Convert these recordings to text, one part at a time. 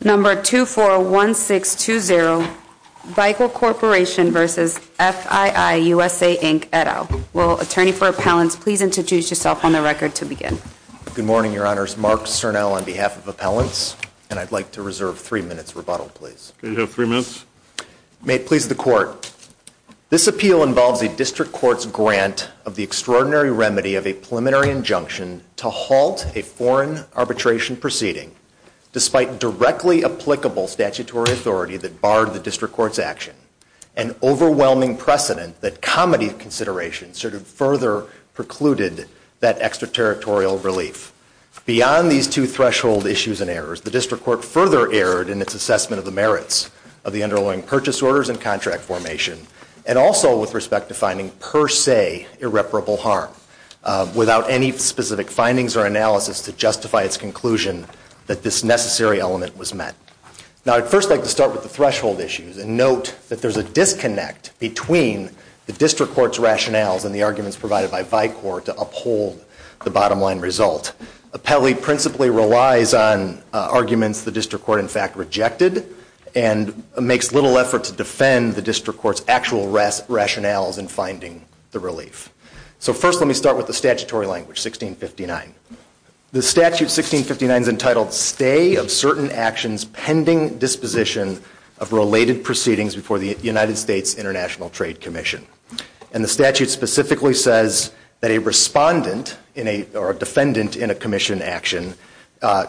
Number 241620, Bicall Corporation v. FII USA Inc., Edo. Will Attorney for Appellants please introduce yourself on the record to begin? Good morning, Your Honors. Mark Cernel on behalf of Appellants. And I'd like to reserve three minutes rebuttal, please. You have three minutes. May it please the Court. This appeal involves a district court's grant of the extraordinary remedy of a preliminary injunction to halt a foreign arbitration proceeding, despite directly applicable statutory authority that barred the district court's action. An overwhelming precedent that comedy of consideration further precluded that extraterritorial relief. Beyond these two threshold issues and errors, the district court further erred in its assessment of the merits of the underlying purchase orders and contract formation, and also with respect to finding per se irreparable harm. Without any specific findings or analysis to justify its conclusion that this necessary element was met. Now, I'd first like to start with the threshold issues and note that there's a disconnect between the district court's rationales and the arguments provided by Vicor to uphold the bottom line result. Appellee principally relies on arguments the district court in fact rejected, and makes little effort to defend the district court's actual rationales in finding the relief. So first let me start with the statutory language, 1659. The statute 1659 is entitled stay of certain actions pending disposition of related proceedings before the United States International Trade Commission. And the statute specifically says that a respondent or a defendant in a commission action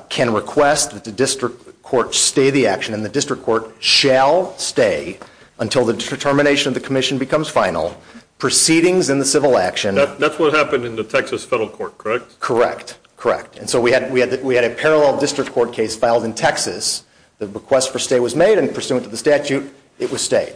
can request that the district court stay the action and the district court shall stay until the determination of the commission becomes final, proceedings in the civil action. That's what happened in the Texas federal court, correct? Correct, correct. And so we had a parallel district court case filed in Texas. The request for stay was made, and pursuant to the statute, it was stayed.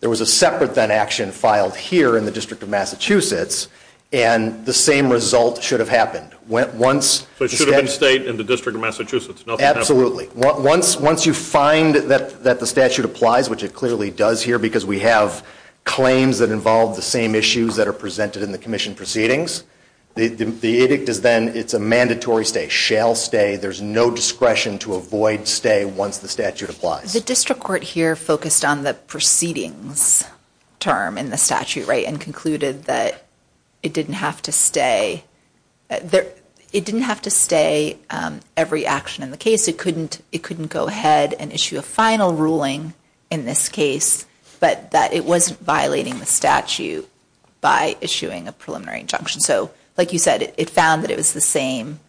There was a separate then action filed here in the District of Massachusetts, and the same result should have happened. Went once- So it should have been stayed in the District of Massachusetts, nothing happened. Absolutely, once you find that the statute applies, which it clearly does here, because we have claims that involve the same issues that are presented in the commission proceedings. The edict is then, it's a mandatory stay, shall stay. There's no discretion to avoid stay once the statute applies. The district court here focused on the proceedings term in the statute, right? And concluded that it didn't have to stay every action in the case. It couldn't go ahead and issue a final ruling in this case, but that it wasn't violating the statute by issuing a preliminary injunction. So, like you said, it found that it was the same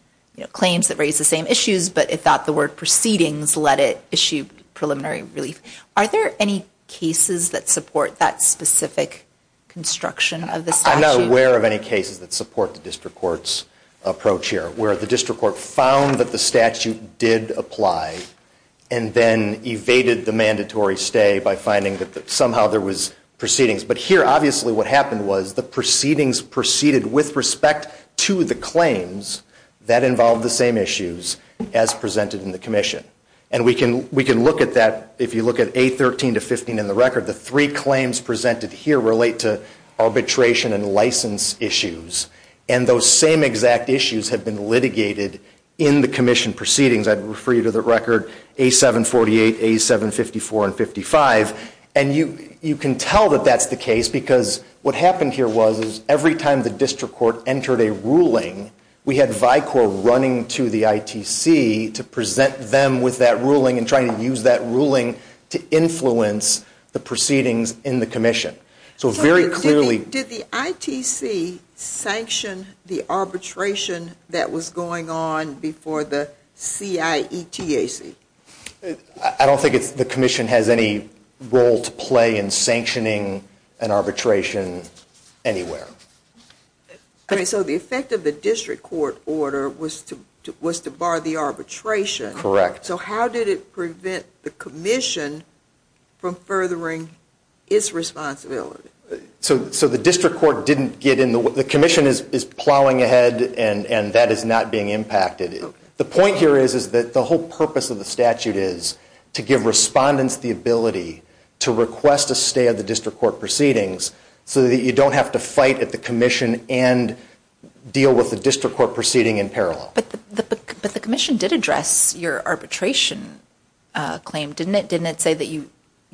claims that raised the same issues, but it thought the word proceedings let it issue preliminary relief. Are there any cases that support that specific construction of the statute? I'm not aware of any cases that support the district court's approach here. Where the district court found that the statute did apply, and then evaded the mandatory stay by finding that somehow there was proceedings. But here, obviously, what happened was the proceedings proceeded with respect to the claims that involved the same issues as presented in the commission. And we can look at that, if you look at A13 to 15 in the record, the three claims presented here relate to arbitration and license issues. And those same exact issues have been litigated in the commission proceedings. I'd refer you to the record A748, A754, and 55. And you can tell that that's the case, because what happened here was every time the district court entered a ruling, we had VICOR running to the ITC to present them with that ruling and try to use that ruling to influence the proceedings in the commission. So very clearly. Did the ITC sanction the arbitration that was going on before the CIETAC? I don't think the commission has any role to play in sanctioning an arbitration anywhere. Okay, so the effect of the district court order was to bar the arbitration. Correct. So how did it prevent the commission from furthering its responsibility? So the district court didn't get in the way, the commission is plowing ahead and that is not being impacted. The point here is that the whole purpose of the statute is to give respondents the ability to request a stay of the district court proceedings so that you don't have to fight at the commission and deal with the district court proceeding in parallel. But the commission did address your arbitration claim, didn't it? Didn't it say that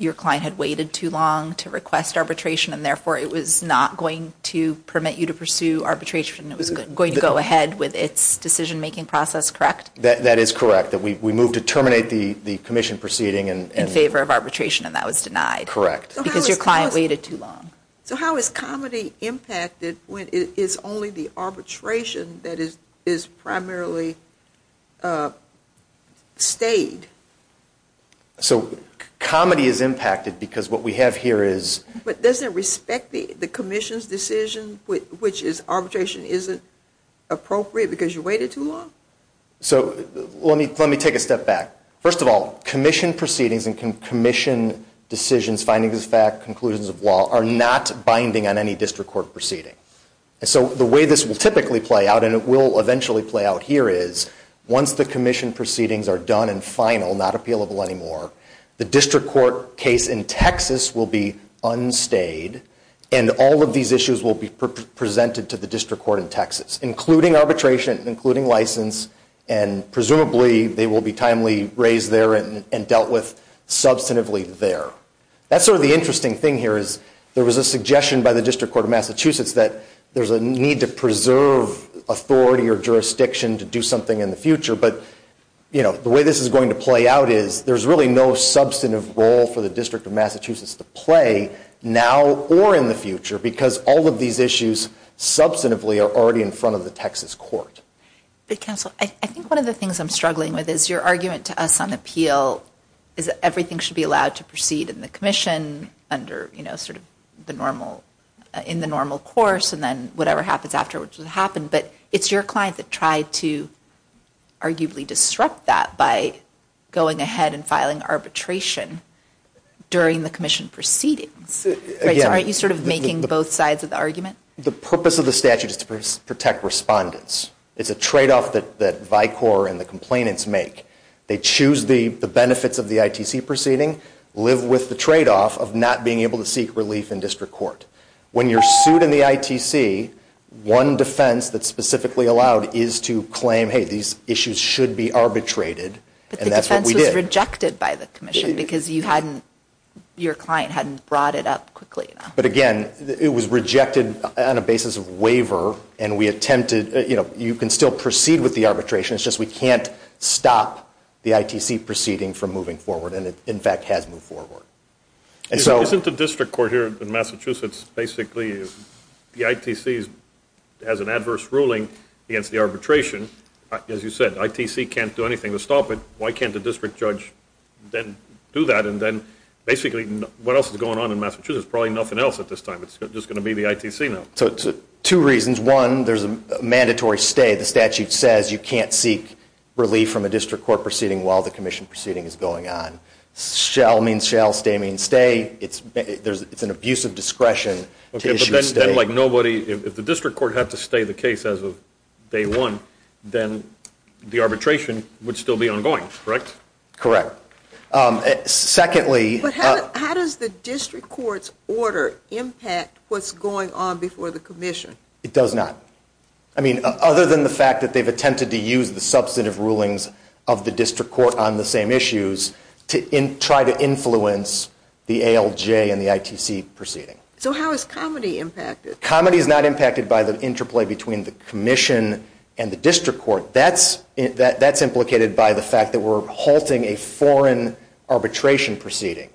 your client had waited too long to request arbitration and therefore it was not going to permit you to pursue arbitration, it was going to go ahead with its decision making process, correct? That is correct. That we moved to terminate the commission proceeding in favor of arbitration and that was denied. Correct. Because your client waited too long. So how is comedy impacted when it is only the arbitration that is primarily stayed? So comedy is impacted because what we have here is. But doesn't it respect the commission's decision which is arbitration isn't appropriate because you waited too long? So let me take a step back. First of all, commission proceedings and commission decisions, findings of fact, conclusions of law are not binding on any district court proceeding. And so the way this will typically play out and it will eventually play out here is once the commission proceedings are done and final, not appealable anymore, the district court case in Texas will be unstayed and all of these issues will be presented to the district court in Texas including arbitration, including license and presumably they will be timely raised there and dealt with substantively there. That's sort of the interesting thing here is there was a suggestion by the district court of Massachusetts that there's a need to preserve authority or jurisdiction to do something in the future. But, you know, the way this is going to play out is there's really no substantive role for the district of Massachusetts to play now or in the future because all of these issues substantively are already in front of the Texas court. But counsel, I think one of the things I'm struggling with is your argument to us on appeal is that everything should be allowed to proceed in the commission under, you know, sort of the normal, in the normal course and then whatever happens afterwards will happen. But it's your client that tried to arguably disrupt that by going ahead and filing arbitration during the commission proceedings. So aren't you sort of making both sides of the argument? The purpose of the statute is to protect respondents. It's a tradeoff that Vicor and the complainants make. They choose the benefits of the ITC proceeding, live with the tradeoff of not being able to seek relief in district court. When you're sued in the ITC, one defense that's specifically allowed is to claim, hey, these issues should be arbitrated and that's what we did. But the defense was rejected by the commission because you hadn't, your client hadn't brought it up quickly enough. But again, it was rejected on a basis of waiver and we attempted, you know, you can still proceed with the arbitration. It's just we can't stop the ITC proceeding from moving forward. And it in fact has moved forward. And so. Isn't the district court here in Massachusetts basically, the ITC has an adverse ruling against the arbitration. As you said, ITC can't do anything to stop it. Why can't the district judge then do that? And then basically what else is going on in Massachusetts? Probably nothing else at this time. It's just going to be the ITC now. So two reasons. One, there's a mandatory stay. The statute says you can't seek relief from a district court proceeding while the commission proceeding is going on. Shall means shall. Stay means stay. It's an abusive discretion to issue a stay. But then like nobody, if the district court had to stay the case as of day one, then the arbitration would still be ongoing, correct? Correct. Secondly. But how does the district court's order impact what's going on before the commission? It does not. I mean, other than the fact that they've attempted to use the substantive rulings of the district court on the same issues to try to influence the ALJ and the ITC proceeding. So how is comedy impacted? Comedy is not impacted by the interplay between the commission and the district court. That's implicated by the fact that we're halting a foreign arbitration proceeding.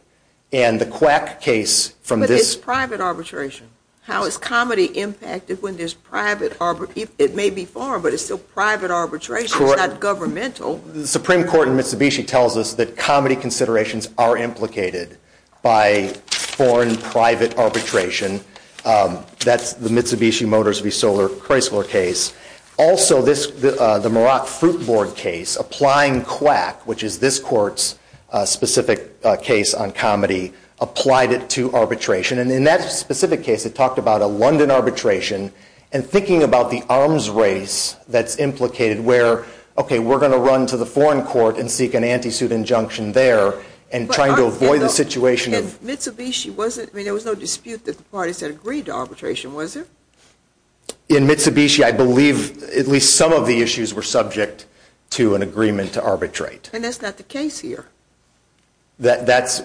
And the quack case from this. But it's private arbitration. How is comedy impacted when there's private arbitration? It may be foreign, but it's still private arbitration. It's not governmental. The Supreme Court in Mitsubishi tells us that comedy considerations are implicated by foreign private arbitration. That's the Mitsubishi Motors v. Solar Chrysler case. Also, the Marock Fruit Board case, applying quack, which is this court's specific case on comedy, applied it to arbitration. And in that specific case, it talked about a London arbitration. And thinking about the arms race that's implicated where, okay, we're going to run to the foreign court and seek an anti-suit injunction there. And trying to avoid the situation. And Mitsubishi wasn't, I mean, there was no dispute that the parties had agreed to arbitration, was there? In Mitsubishi, I believe at least some of the issues were subject to an agreement to arbitrate. And that's not the case here. That's,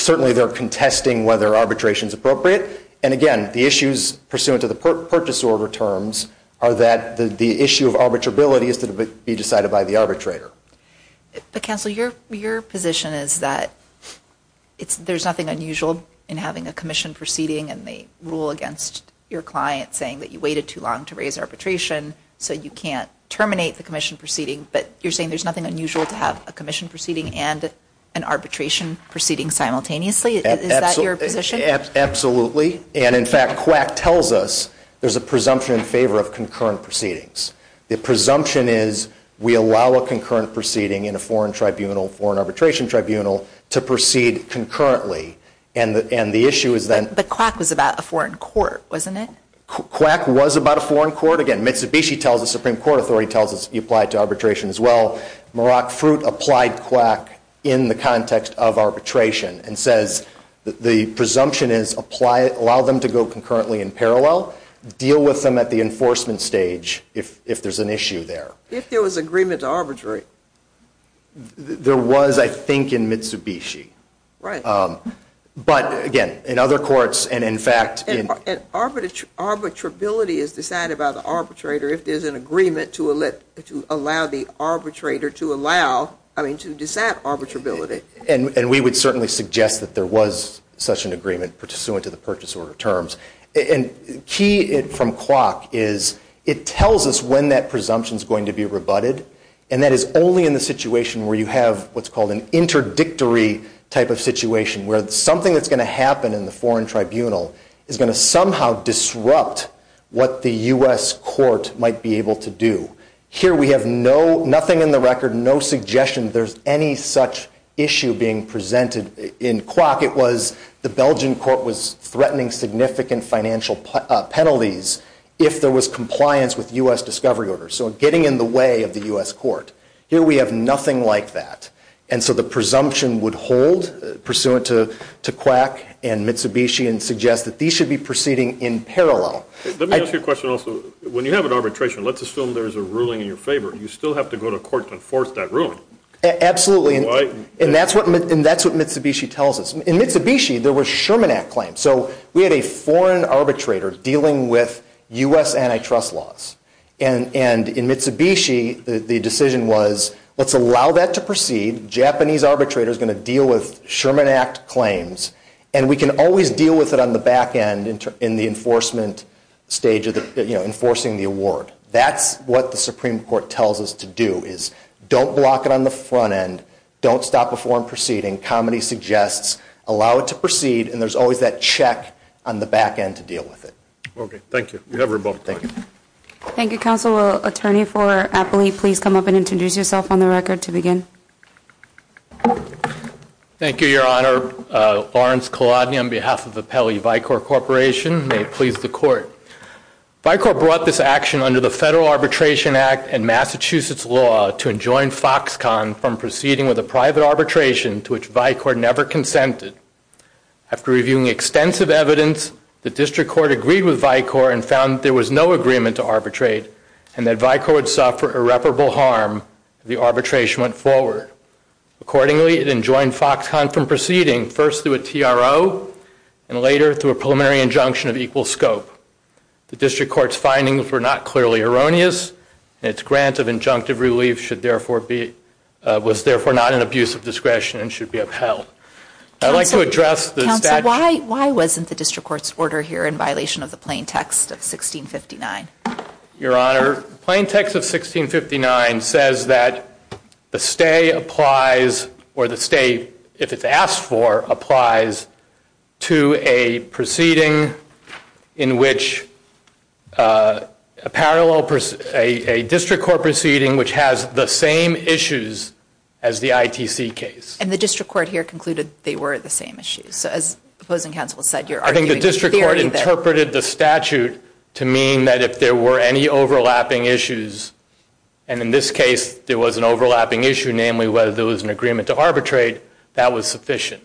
certainly they're contesting whether arbitration's appropriate. And again, the issues pursuant to the purchase order terms are that the issue of arbitrability is to be decided by the arbitrator. But Counselor, your position is that there's nothing unusual in having a commission proceeding and the rule against your client saying that you waited too long to raise arbitration so you can't terminate the commission proceeding. But you're saying there's nothing unusual to have a commission proceeding and an arbitration proceeding simultaneously? Is that your position? Absolutely. And in fact, Quack tells us there's a presumption in favor of concurrent proceedings. The presumption is we allow a concurrent proceeding in a foreign tribunal, foreign arbitration tribunal, to proceed concurrently. And the issue is then. But Quack was about a foreign court, wasn't it? Quack was about a foreign court. Again, Mitsubishi tells us, Supreme Court authority tells us you applied to arbitration as well. Merak Fruit applied to Quack in the context of arbitration and says that the presumption is allow them to go concurrently in parallel, deal with them at the enforcement stage if there's an issue there. If there was agreement to arbitrate. There was, I think, in Mitsubishi. Right. But again, in other courts and in fact. And arbitrability is decided by the arbitrator if there's an agreement to allow the arbitrator to allow, I mean, to dissent arbitrability. And we would certainly suggest that there was such an agreement pursuant to the purchase order terms. And key from Quack is it tells us when that presumption is going to be rebutted. And that is only in the situation where you have what's called an interdictory type of situation where something that's going to happen in the foreign tribunal is going to somehow disrupt what the U.S. court might be able to do. Here we have no, nothing in the record, no suggestion there's any such issue being presented in Quack. It was the Belgian court was threatening significant financial penalties if there was compliance with U.S. discovery order. So getting in the way of the U.S. court. Here we have nothing like that. And so the presumption would hold pursuant to Quack and Mitsubishi and suggest that these should be proceeding in parallel. Let me ask you a question also. When you have an arbitration, let's assume there's a ruling in your favor, you still have to go to court to enforce that ruling. Absolutely. And that's what Mitsubishi tells us. In Mitsubishi, there was Sherman Act claims. So we had a foreign arbitrator dealing with U.S. antitrust laws. And in Mitsubishi, the decision was let's allow that to proceed. Japanese arbitrator is going to deal with Sherman Act claims. And we can always deal with it on the back end in the enforcement stage of the, you know, enforcing the award. That's what the Supreme Court tells us to do is don't block it on the front end. Don't stop a foreign proceeding. Comedy suggests. Allow it to proceed. And there's always that check on the back end to deal with it. Okay. Thank you. You have your ball. Thank you. Thank you, counsel. Will attorney for Apley please come up and introduce yourself on the record to begin? Thank you, Your Honor. Lawrence Kolodny on behalf of the Pele-Vicor Corporation. May it please the court. Vicor brought this action under the Federal Arbitration Act and Massachusetts law to enjoin Foxconn from proceeding with a private arbitration to which Vicor never consented. After reviewing extensive evidence, the district court agreed with Vicor and found that there was no agreement to arbitrate and that Vicor would suffer irreparable harm if the arbitration went forward. Accordingly, it enjoined Foxconn from proceeding first through a TRO and later through a preliminary injunction of equal scope. The district court's findings were not clearly erroneous and its grant of injunctive relief should therefore be, was therefore not an abuse of discretion and should be upheld. I'd like to address the statute. Why wasn't the district court's order here in violation of the plain text of 1659? Your Honor, plain text of 1659 says that the stay applies or the stay, if it's asked for, applies to a proceeding in which a parallel, a district court proceeding which has the same issues as the ITC case. And the district court here concluded they were the same issues. So as opposing counsel said, you're arguing the theory that. I think the district court interpreted the statute to mean that if there were any overlapping issues, and in this case there was an overlapping issue, namely whether there was an agreement to arbitrate, that was sufficient.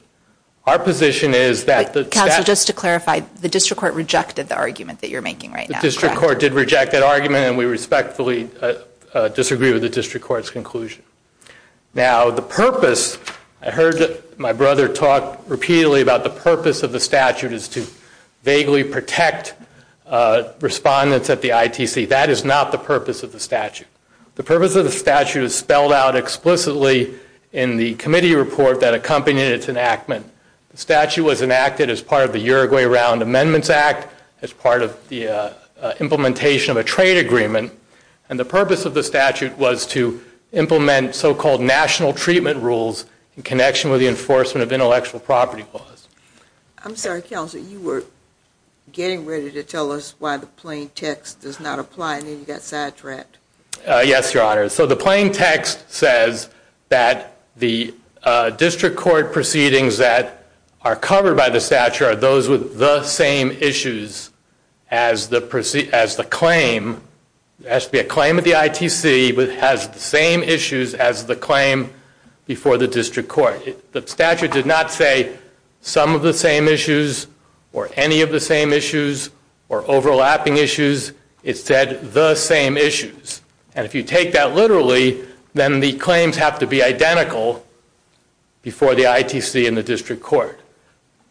Our position is that the statute. Counsel, just to clarify, the district court rejected the argument that you're making right now. The district court did reject that argument and we respectfully disagree with the district court's conclusion. Now, the purpose, I heard my brother talk repeatedly about the purpose of the statute is to vaguely protect respondents at the ITC. That is not the purpose of the statute. The purpose of the statute is spelled out explicitly in the committee report that accompanied its enactment. The statute was enacted as part of the Uruguay Round Amendments Act, as part of the implementation of a trade agreement. And the purpose of the statute was to implement so-called national treatment rules in connection with the enforcement of intellectual property laws. I'm sorry, counsel, you were getting ready to tell us why the plain text does not apply and then you got sidetracked. Yes, Your Honor. So the plain text says that the district court proceedings that are covered by the statute are those with the same issues as the claim. It has to be a claim at the ITC, but it has the same issues as the claim before the district court. The statute did not say some of the same issues or any of the same issues or overlapping issues. It said the same issues. And if you take that literally, then the claims have to be identical before the ITC and the district court.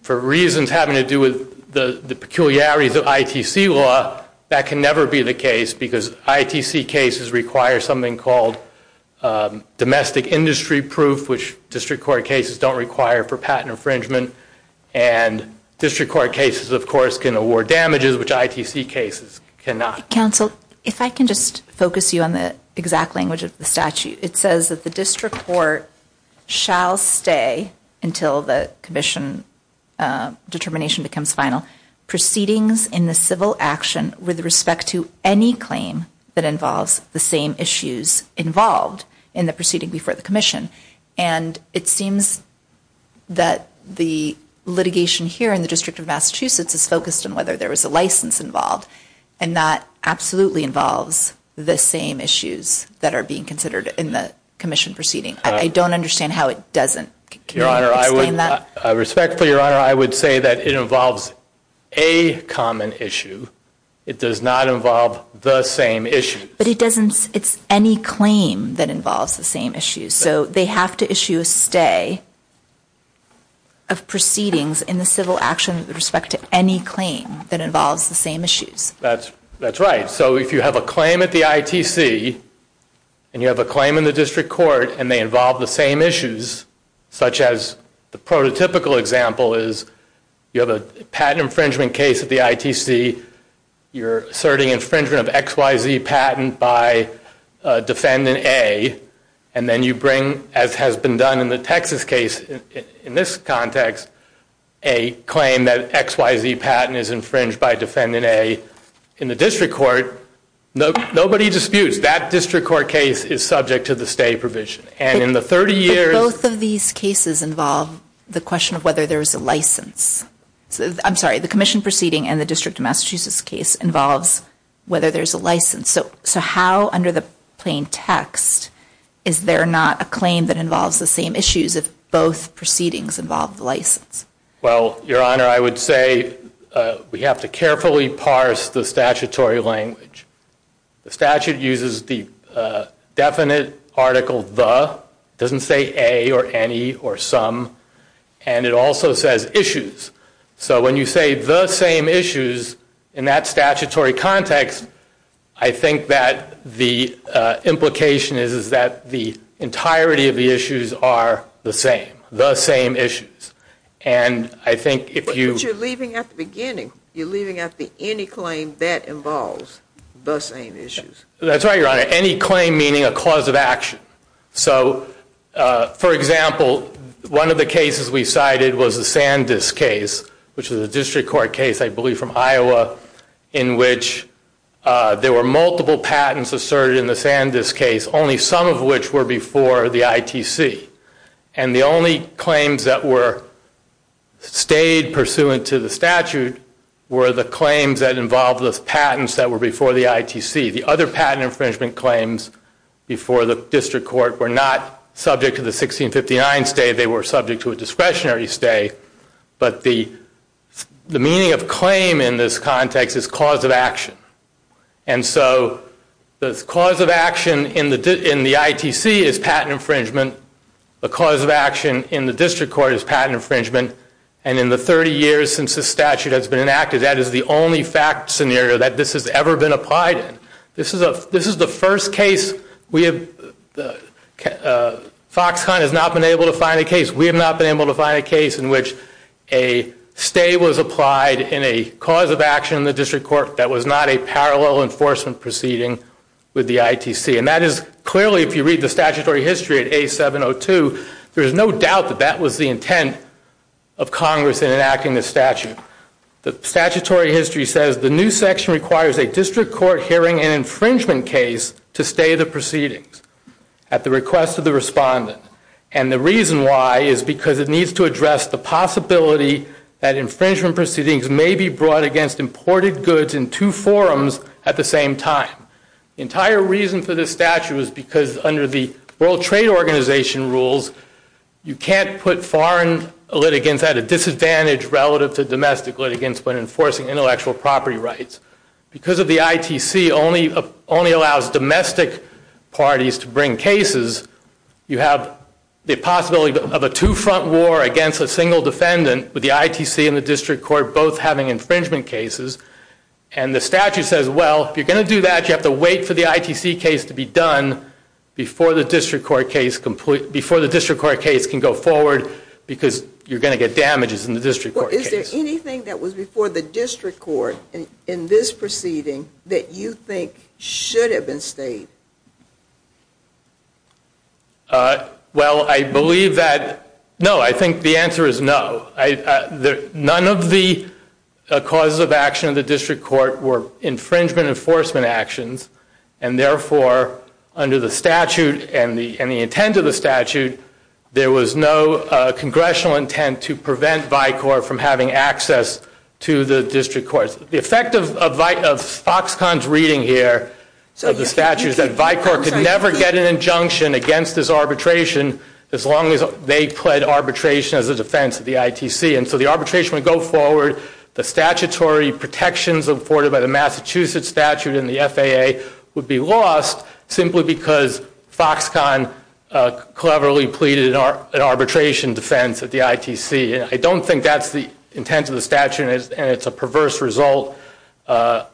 For reasons having to do with the peculiarities of ITC law, that can never be the case because ITC cases require something called domestic industry proof, which district court cases don't require for patent infringement. And district court cases, of course, can award damages, which ITC cases cannot. Counsel, if I can just focus you on the exact language of the statute. It says that the district court shall stay until the commission determination becomes final. Proceedings in the civil action with respect to any claim that involves the same issues involved in the proceeding before the commission. And it seems that the litigation here in the District of Massachusetts is focused on whether there was a license involved. And that absolutely involves the same issues that are being considered in the commission proceeding. I don't understand how it doesn't. Can you explain that? I respect for your honor, I would say that it involves a common issue. It does not involve the same issue. But it doesn't, it's any claim that involves the same issue. So they have to issue a stay of proceedings in the civil action with respect to any claim that involves the same issues. That's right. So if you have a claim at the ITC and you have a claim in the district court and they involve the same issues, such as the prototypical example is, you have a patent infringement case at the ITC. You're asserting infringement of XYZ patent by defendant A. And then you bring, as has been done in the Texas case, in this context, a claim that XYZ patent is infringed by defendant A in the district court. Nobody disputes that district court case is subject to the stay provision. And in the 30 years. But both of these cases involve the question of whether there was a license. I'm sorry, the commission proceeding and the District of Massachusetts case involves whether there's a license. So how, under the plain text, is there not a claim that involves the same issues if both proceedings involve the license? Well, Your Honor, I would say we have to carefully parse the statutory language. The statute uses the definite article the, doesn't say a or any or some. And it also says issues. So when you say the same issues, in that statutory context, I think that the implication is that the entirety of the issues are the same. And I think if you- But you're leaving at the beginning. You're leaving out the any claim that involves the same issues. That's right, Your Honor. Any claim meaning a cause of action. So, for example, one of the cases we cited was the Sandus case, which is a district court case, I believe from Iowa, in which there were multiple patents asserted in the Sandus case, only some of which were before the ITC. And the only claims that were stayed pursuant to the statute were the claims that involved those patents that were before the ITC. The other patent infringement claims before the district court were not subject to the 1659 stay. They were subject to a discretionary stay. But the meaning of claim in this context is cause of action. And so the cause of action in the ITC is patent infringement. The cause of action in the district court is patent infringement. And in the 30 years since this statute has been enacted, that is the only fact scenario that this has ever been applied in. This is the first case we have, Foxconn has not been able to find a case. We have not been able to find a case in which a stay was applied in a cause of action in the district court that was not a parallel enforcement proceeding with the ITC. And that is clearly, if you read the statutory history at A702, there is no doubt that that was the intent of Congress in enacting this statute. The statutory history says the new section requires a district court hearing and infringement case to stay the proceedings at the request of the respondent. And the reason why is because it needs to address the possibility that infringement proceedings may be brought against imported goods in two forums at the same time. Entire reason for this statute is because under the World Trade Organization rules, you can't put foreign litigants at a disadvantage relative to domestic litigants when enforcing intellectual property rights. Because of the ITC only allows domestic parties to bring cases, you have the possibility of a two-front war against a single defendant with the ITC and the district court both having infringement cases. And the statute says, well, if you're going to do that, you have to wait for the ITC case to be done before the district court case can go forward because you're going to get damages in the district court case. Well, is there anything that was before the district court in this proceeding that you think should have been stayed? Well, I believe that, no, I think the answer is no. None of the causes of action of the district court were infringement enforcement actions and therefore under the statute and the intent of the statute, there was no congressional intent to prevent VICOR from having access to the district courts. The effect of Foxconn's reading here of the statute is that VICOR could never get an injunction against this arbitration as long as they pled arbitration as a defense of the ITC. And so the arbitration would go forward, the statutory protections afforded by the Massachusetts statute and the FAA would be lost simply because Foxconn cleverly pleaded an arbitration defense at the ITC. I don't think that's the intent of the statute and it's a perverse result of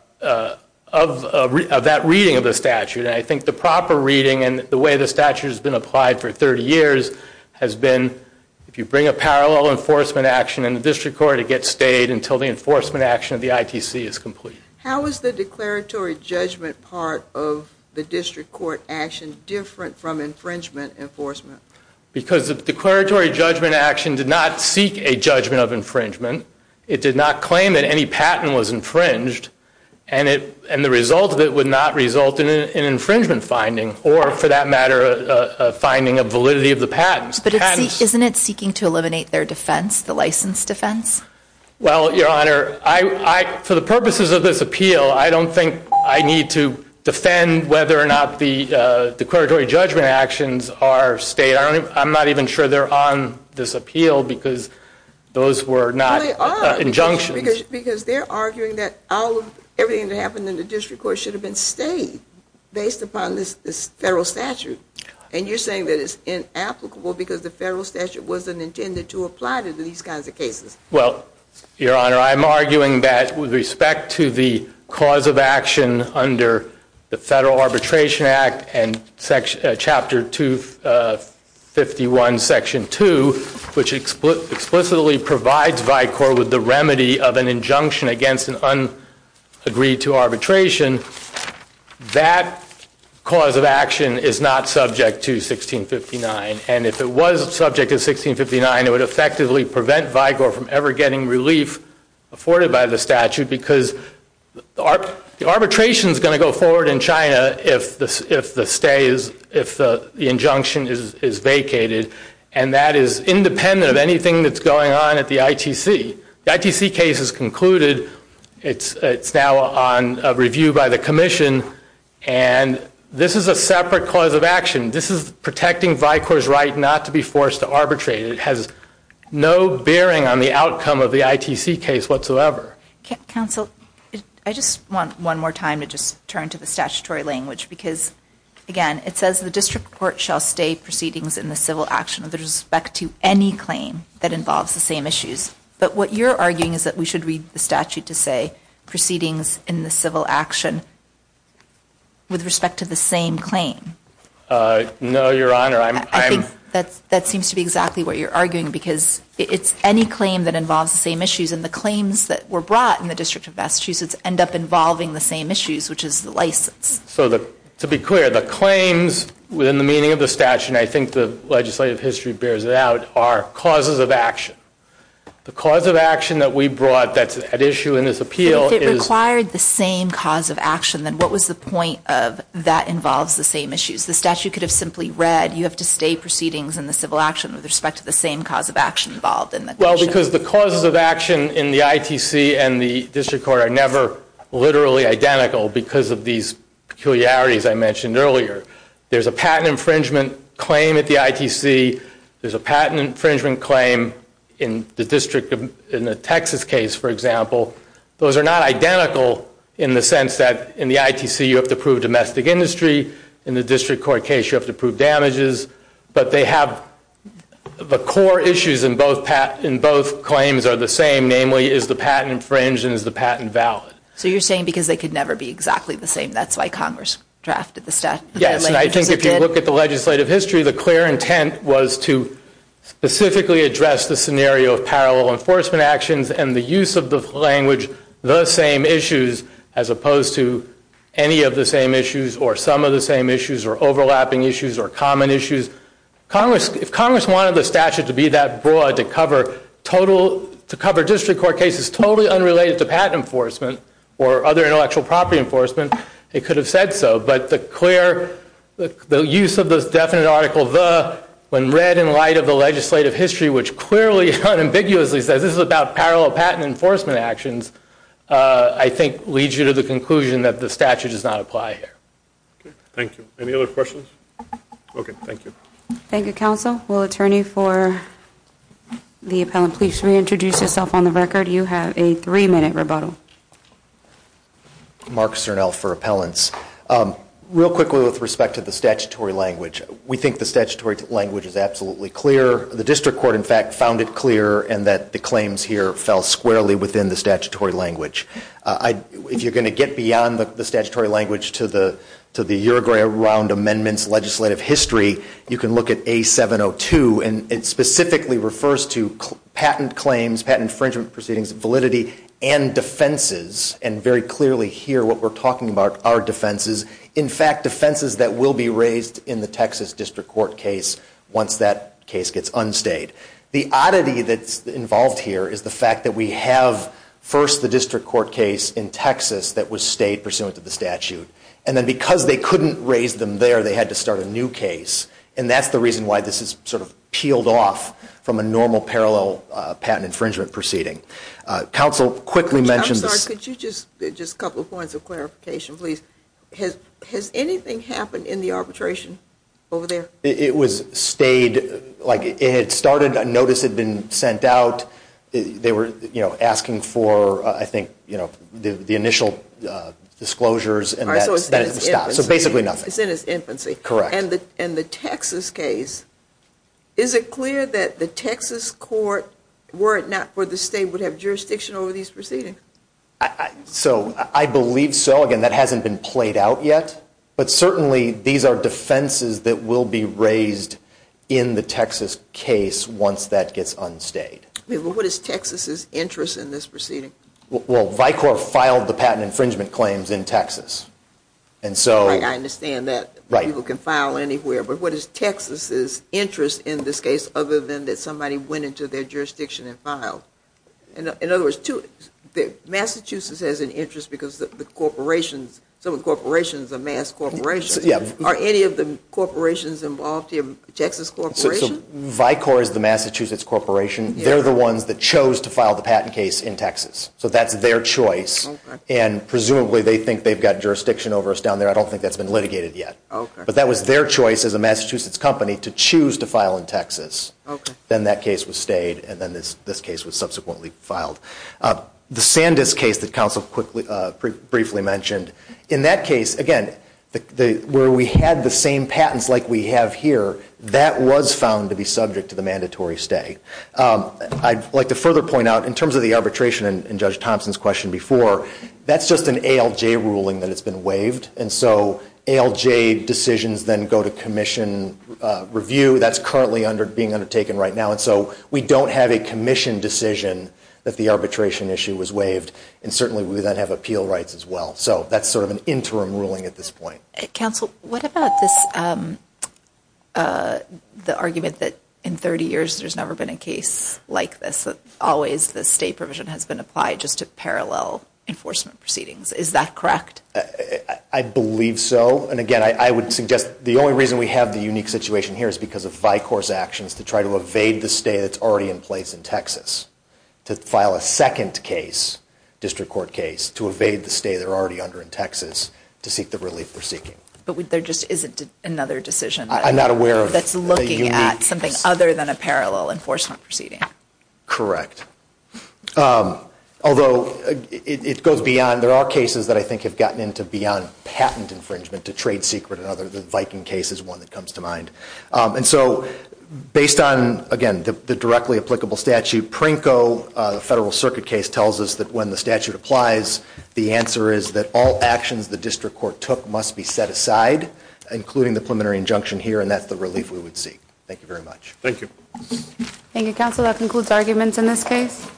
that reading of the statute. And I think the proper reading and the way the statute has been applied for 30 years has been if you bring a parallel enforcement action in the district court, it gets stayed until the enforcement action of the ITC is complete. How is the declaratory judgment part of the district court action different from infringement enforcement? Because the declaratory judgment action did not seek a judgment of infringement. It did not claim that any patent was infringed and the result of it would not result in an infringement finding or for that matter a finding of validity of the patents. But isn't it seeking to eliminate their defense, the license defense? Well, your honor, for the purposes of this appeal, I don't think I need to defend whether or not the declaratory judgment actions are stated. I'm not even sure they're on this appeal because those were not injunctions. Because they're arguing that everything that happened in the district court should have been stayed based upon this federal statute. And you're saying that it's inapplicable because the federal statute wasn't intended to apply to these kinds of cases. Well, your honor, I'm arguing that with respect to the cause of action under the Federal Arbitration Act and Chapter 251, Section 2, which explicitly provides VICOR with the remedy of an injunction against an unagreed to arbitration, that cause of action is not subject to 1659. And if it was subject to 1659, it would effectively prevent VICOR from ever getting relief afforded by the statute. Because the arbitration is going to go forward in China if the stay is, if the injunction is vacated. And that is independent of anything that's going on at the ITC. The ITC case is concluded. It's now on review by the commission. And this is a separate cause of action. This is protecting VICOR's right not to be forced to arbitrate. It has no bearing on the outcome of the ITC case whatsoever. Counsel, I just want one more time to just turn to the statutory language. Because, again, it says the district court shall stay proceedings in the civil action with respect to any claim that involves the same issues. But what you're arguing is that we should read the statute to say proceedings in the civil action with respect to the same claim. No, your honor, I'm. That seems to be exactly what you're arguing. Because it's any claim that involves the same issues. And the claims that were brought in the District of Massachusetts end up involving the same issues, which is the license. So to be clear, the claims within the meaning of the statute, and I think the legislative history bears it out, are causes of action. The cause of action that we brought that's at issue in this appeal is. If it required the same cause of action, then what was the point of that involves the same issues? The statute could have simply read, you have to stay proceedings in the civil action with respect to the same cause of action involved in the. Well, because the causes of action in the ITC and the district court are never literally identical because of these peculiarities I mentioned earlier. There's a patent infringement claim at the ITC. There's a patent infringement claim in the Texas case, for example. Those are not identical in the sense that in the ITC, you have to prove domestic industry. In the district court case, you have to prove damages. But they have the core issues in both claims are the same, namely, is the patent infringed and is the patent valid? So you're saying because they could never be exactly the same, that's why Congress drafted the statute? Yes, and I think if you look at the legislative history, the clear intent was to specifically address the scenario of parallel enforcement actions and the use of the language, the same issues, as opposed to any of the same issues or some of the same issues or overlapping issues or common issues. If Congress wanted the statute to be that broad to cover district court cases totally unrelated to patent enforcement or other intellectual property enforcement, it could have said so. But the use of this definite article, the, when read in light of the legislative history, which clearly unambiguously says this is about parallel patent enforcement actions, I think leads you to the conclusion that the statute does not apply here. Okay, thank you. Any other questions? Okay, thank you. Thank you, counsel. Will attorney for the appellant please reintroduce yourself on the record? You have a three minute rebuttal. Mark Cernel for appellants. Real quickly with respect to the statutory language, we think the statutory language is absolutely clear. The district court, in fact, found it clear and that the claims here fell squarely within the statutory language. If you're going to get beyond the statutory language to the Uruguay round amendments legislative history, you can look at A702, and it specifically refers to patent claims, patent infringement proceedings, validity, and defenses. And very clearly here, what we're talking about are defenses. In fact, defenses that will be raised in the Texas district court case once that case gets unstayed. The oddity that's involved here is the fact that we have, first, the district court case in Texas that was stayed pursuant to the statute. And then because they couldn't raise them there, they had to start a new case. And that's the reason why this is sort of peeled off from a normal parallel patent infringement proceeding. Counsel, quickly mention- I'm sorry, could you just, just a couple of points of clarification, please? Has anything happened in the arbitration over there? It was stayed, like it had started, a notice had been sent out. They were, you know, asking for, I think, you know, the initial disclosures. All right, so it's in its infancy. So basically nothing. It's in its infancy. Correct. And the Texas case, is it clear that the Texas court, were it not for the state, would have jurisdiction over these proceedings? So, I believe so. Again, that hasn't been played out yet. But certainly, these are defenses that will be raised in the Texas case once that gets unstayed. Yeah, but what is Texas's interest in this proceeding? Well, Vicor filed the patent infringement claims in Texas. And so- Right, I understand that. Right. People can file anywhere. But what is Texas's interest in this case, other than that somebody went into their jurisdiction and filed? In other words, Massachusetts has an interest because the corporations, some of the corporations are mass corporations. Are any of the corporations involved here Texas corporations? Vicor is the Massachusetts corporation. They're the ones that chose to file the patent case in Texas. So that's their choice. And presumably they think they've got jurisdiction over us down there. I don't think that's been litigated yet. Okay. But that was their choice as a Massachusetts company to choose to file in Texas. Okay. Then that case was stayed and then this case was subsequently filed. The Sandus case that counsel briefly mentioned, in that case, again, where we had the same patents like we have here, that was found to be subject to the mandatory stay. I'd like to further point out, in terms of the arbitration and Judge Thompson's question before, that's just an ALJ ruling that has been waived. And so ALJ decisions then go to commission review. That's currently being undertaken right now. And so we don't have a commission decision that the arbitration issue was waived. And certainly we then have appeal rights as well. So that's sort of an interim ruling at this point. Counsel, what about this, the argument that in 30 years there's never been a case like this? Always the state provision has been applied just to parallel enforcement proceedings. Is that correct? I believe so. And again, I would suggest the only reason we have the unique situation here is because of Vicor's actions to try to evade the stay that's already in place in To file a second case, district court case, to evade the stay they're already under in Texas to seek the relief they're seeking. But there just isn't another decision that's looking at something other than a parallel enforcement proceeding. Correct. Although it goes beyond, there are cases that I think have gotten into beyond patent infringement to trade secret and other, the Viking case is one that comes to mind. And so based on, again, the directly applicable statute, Prinko, the federal circuit case tells us that when the statute applies, the answer is that all actions the district court took must be set aside, including the preliminary injunction here. And that's the relief we would seek. Thank you very much. Thank you. Thank you, Counsel. That concludes arguments in this case.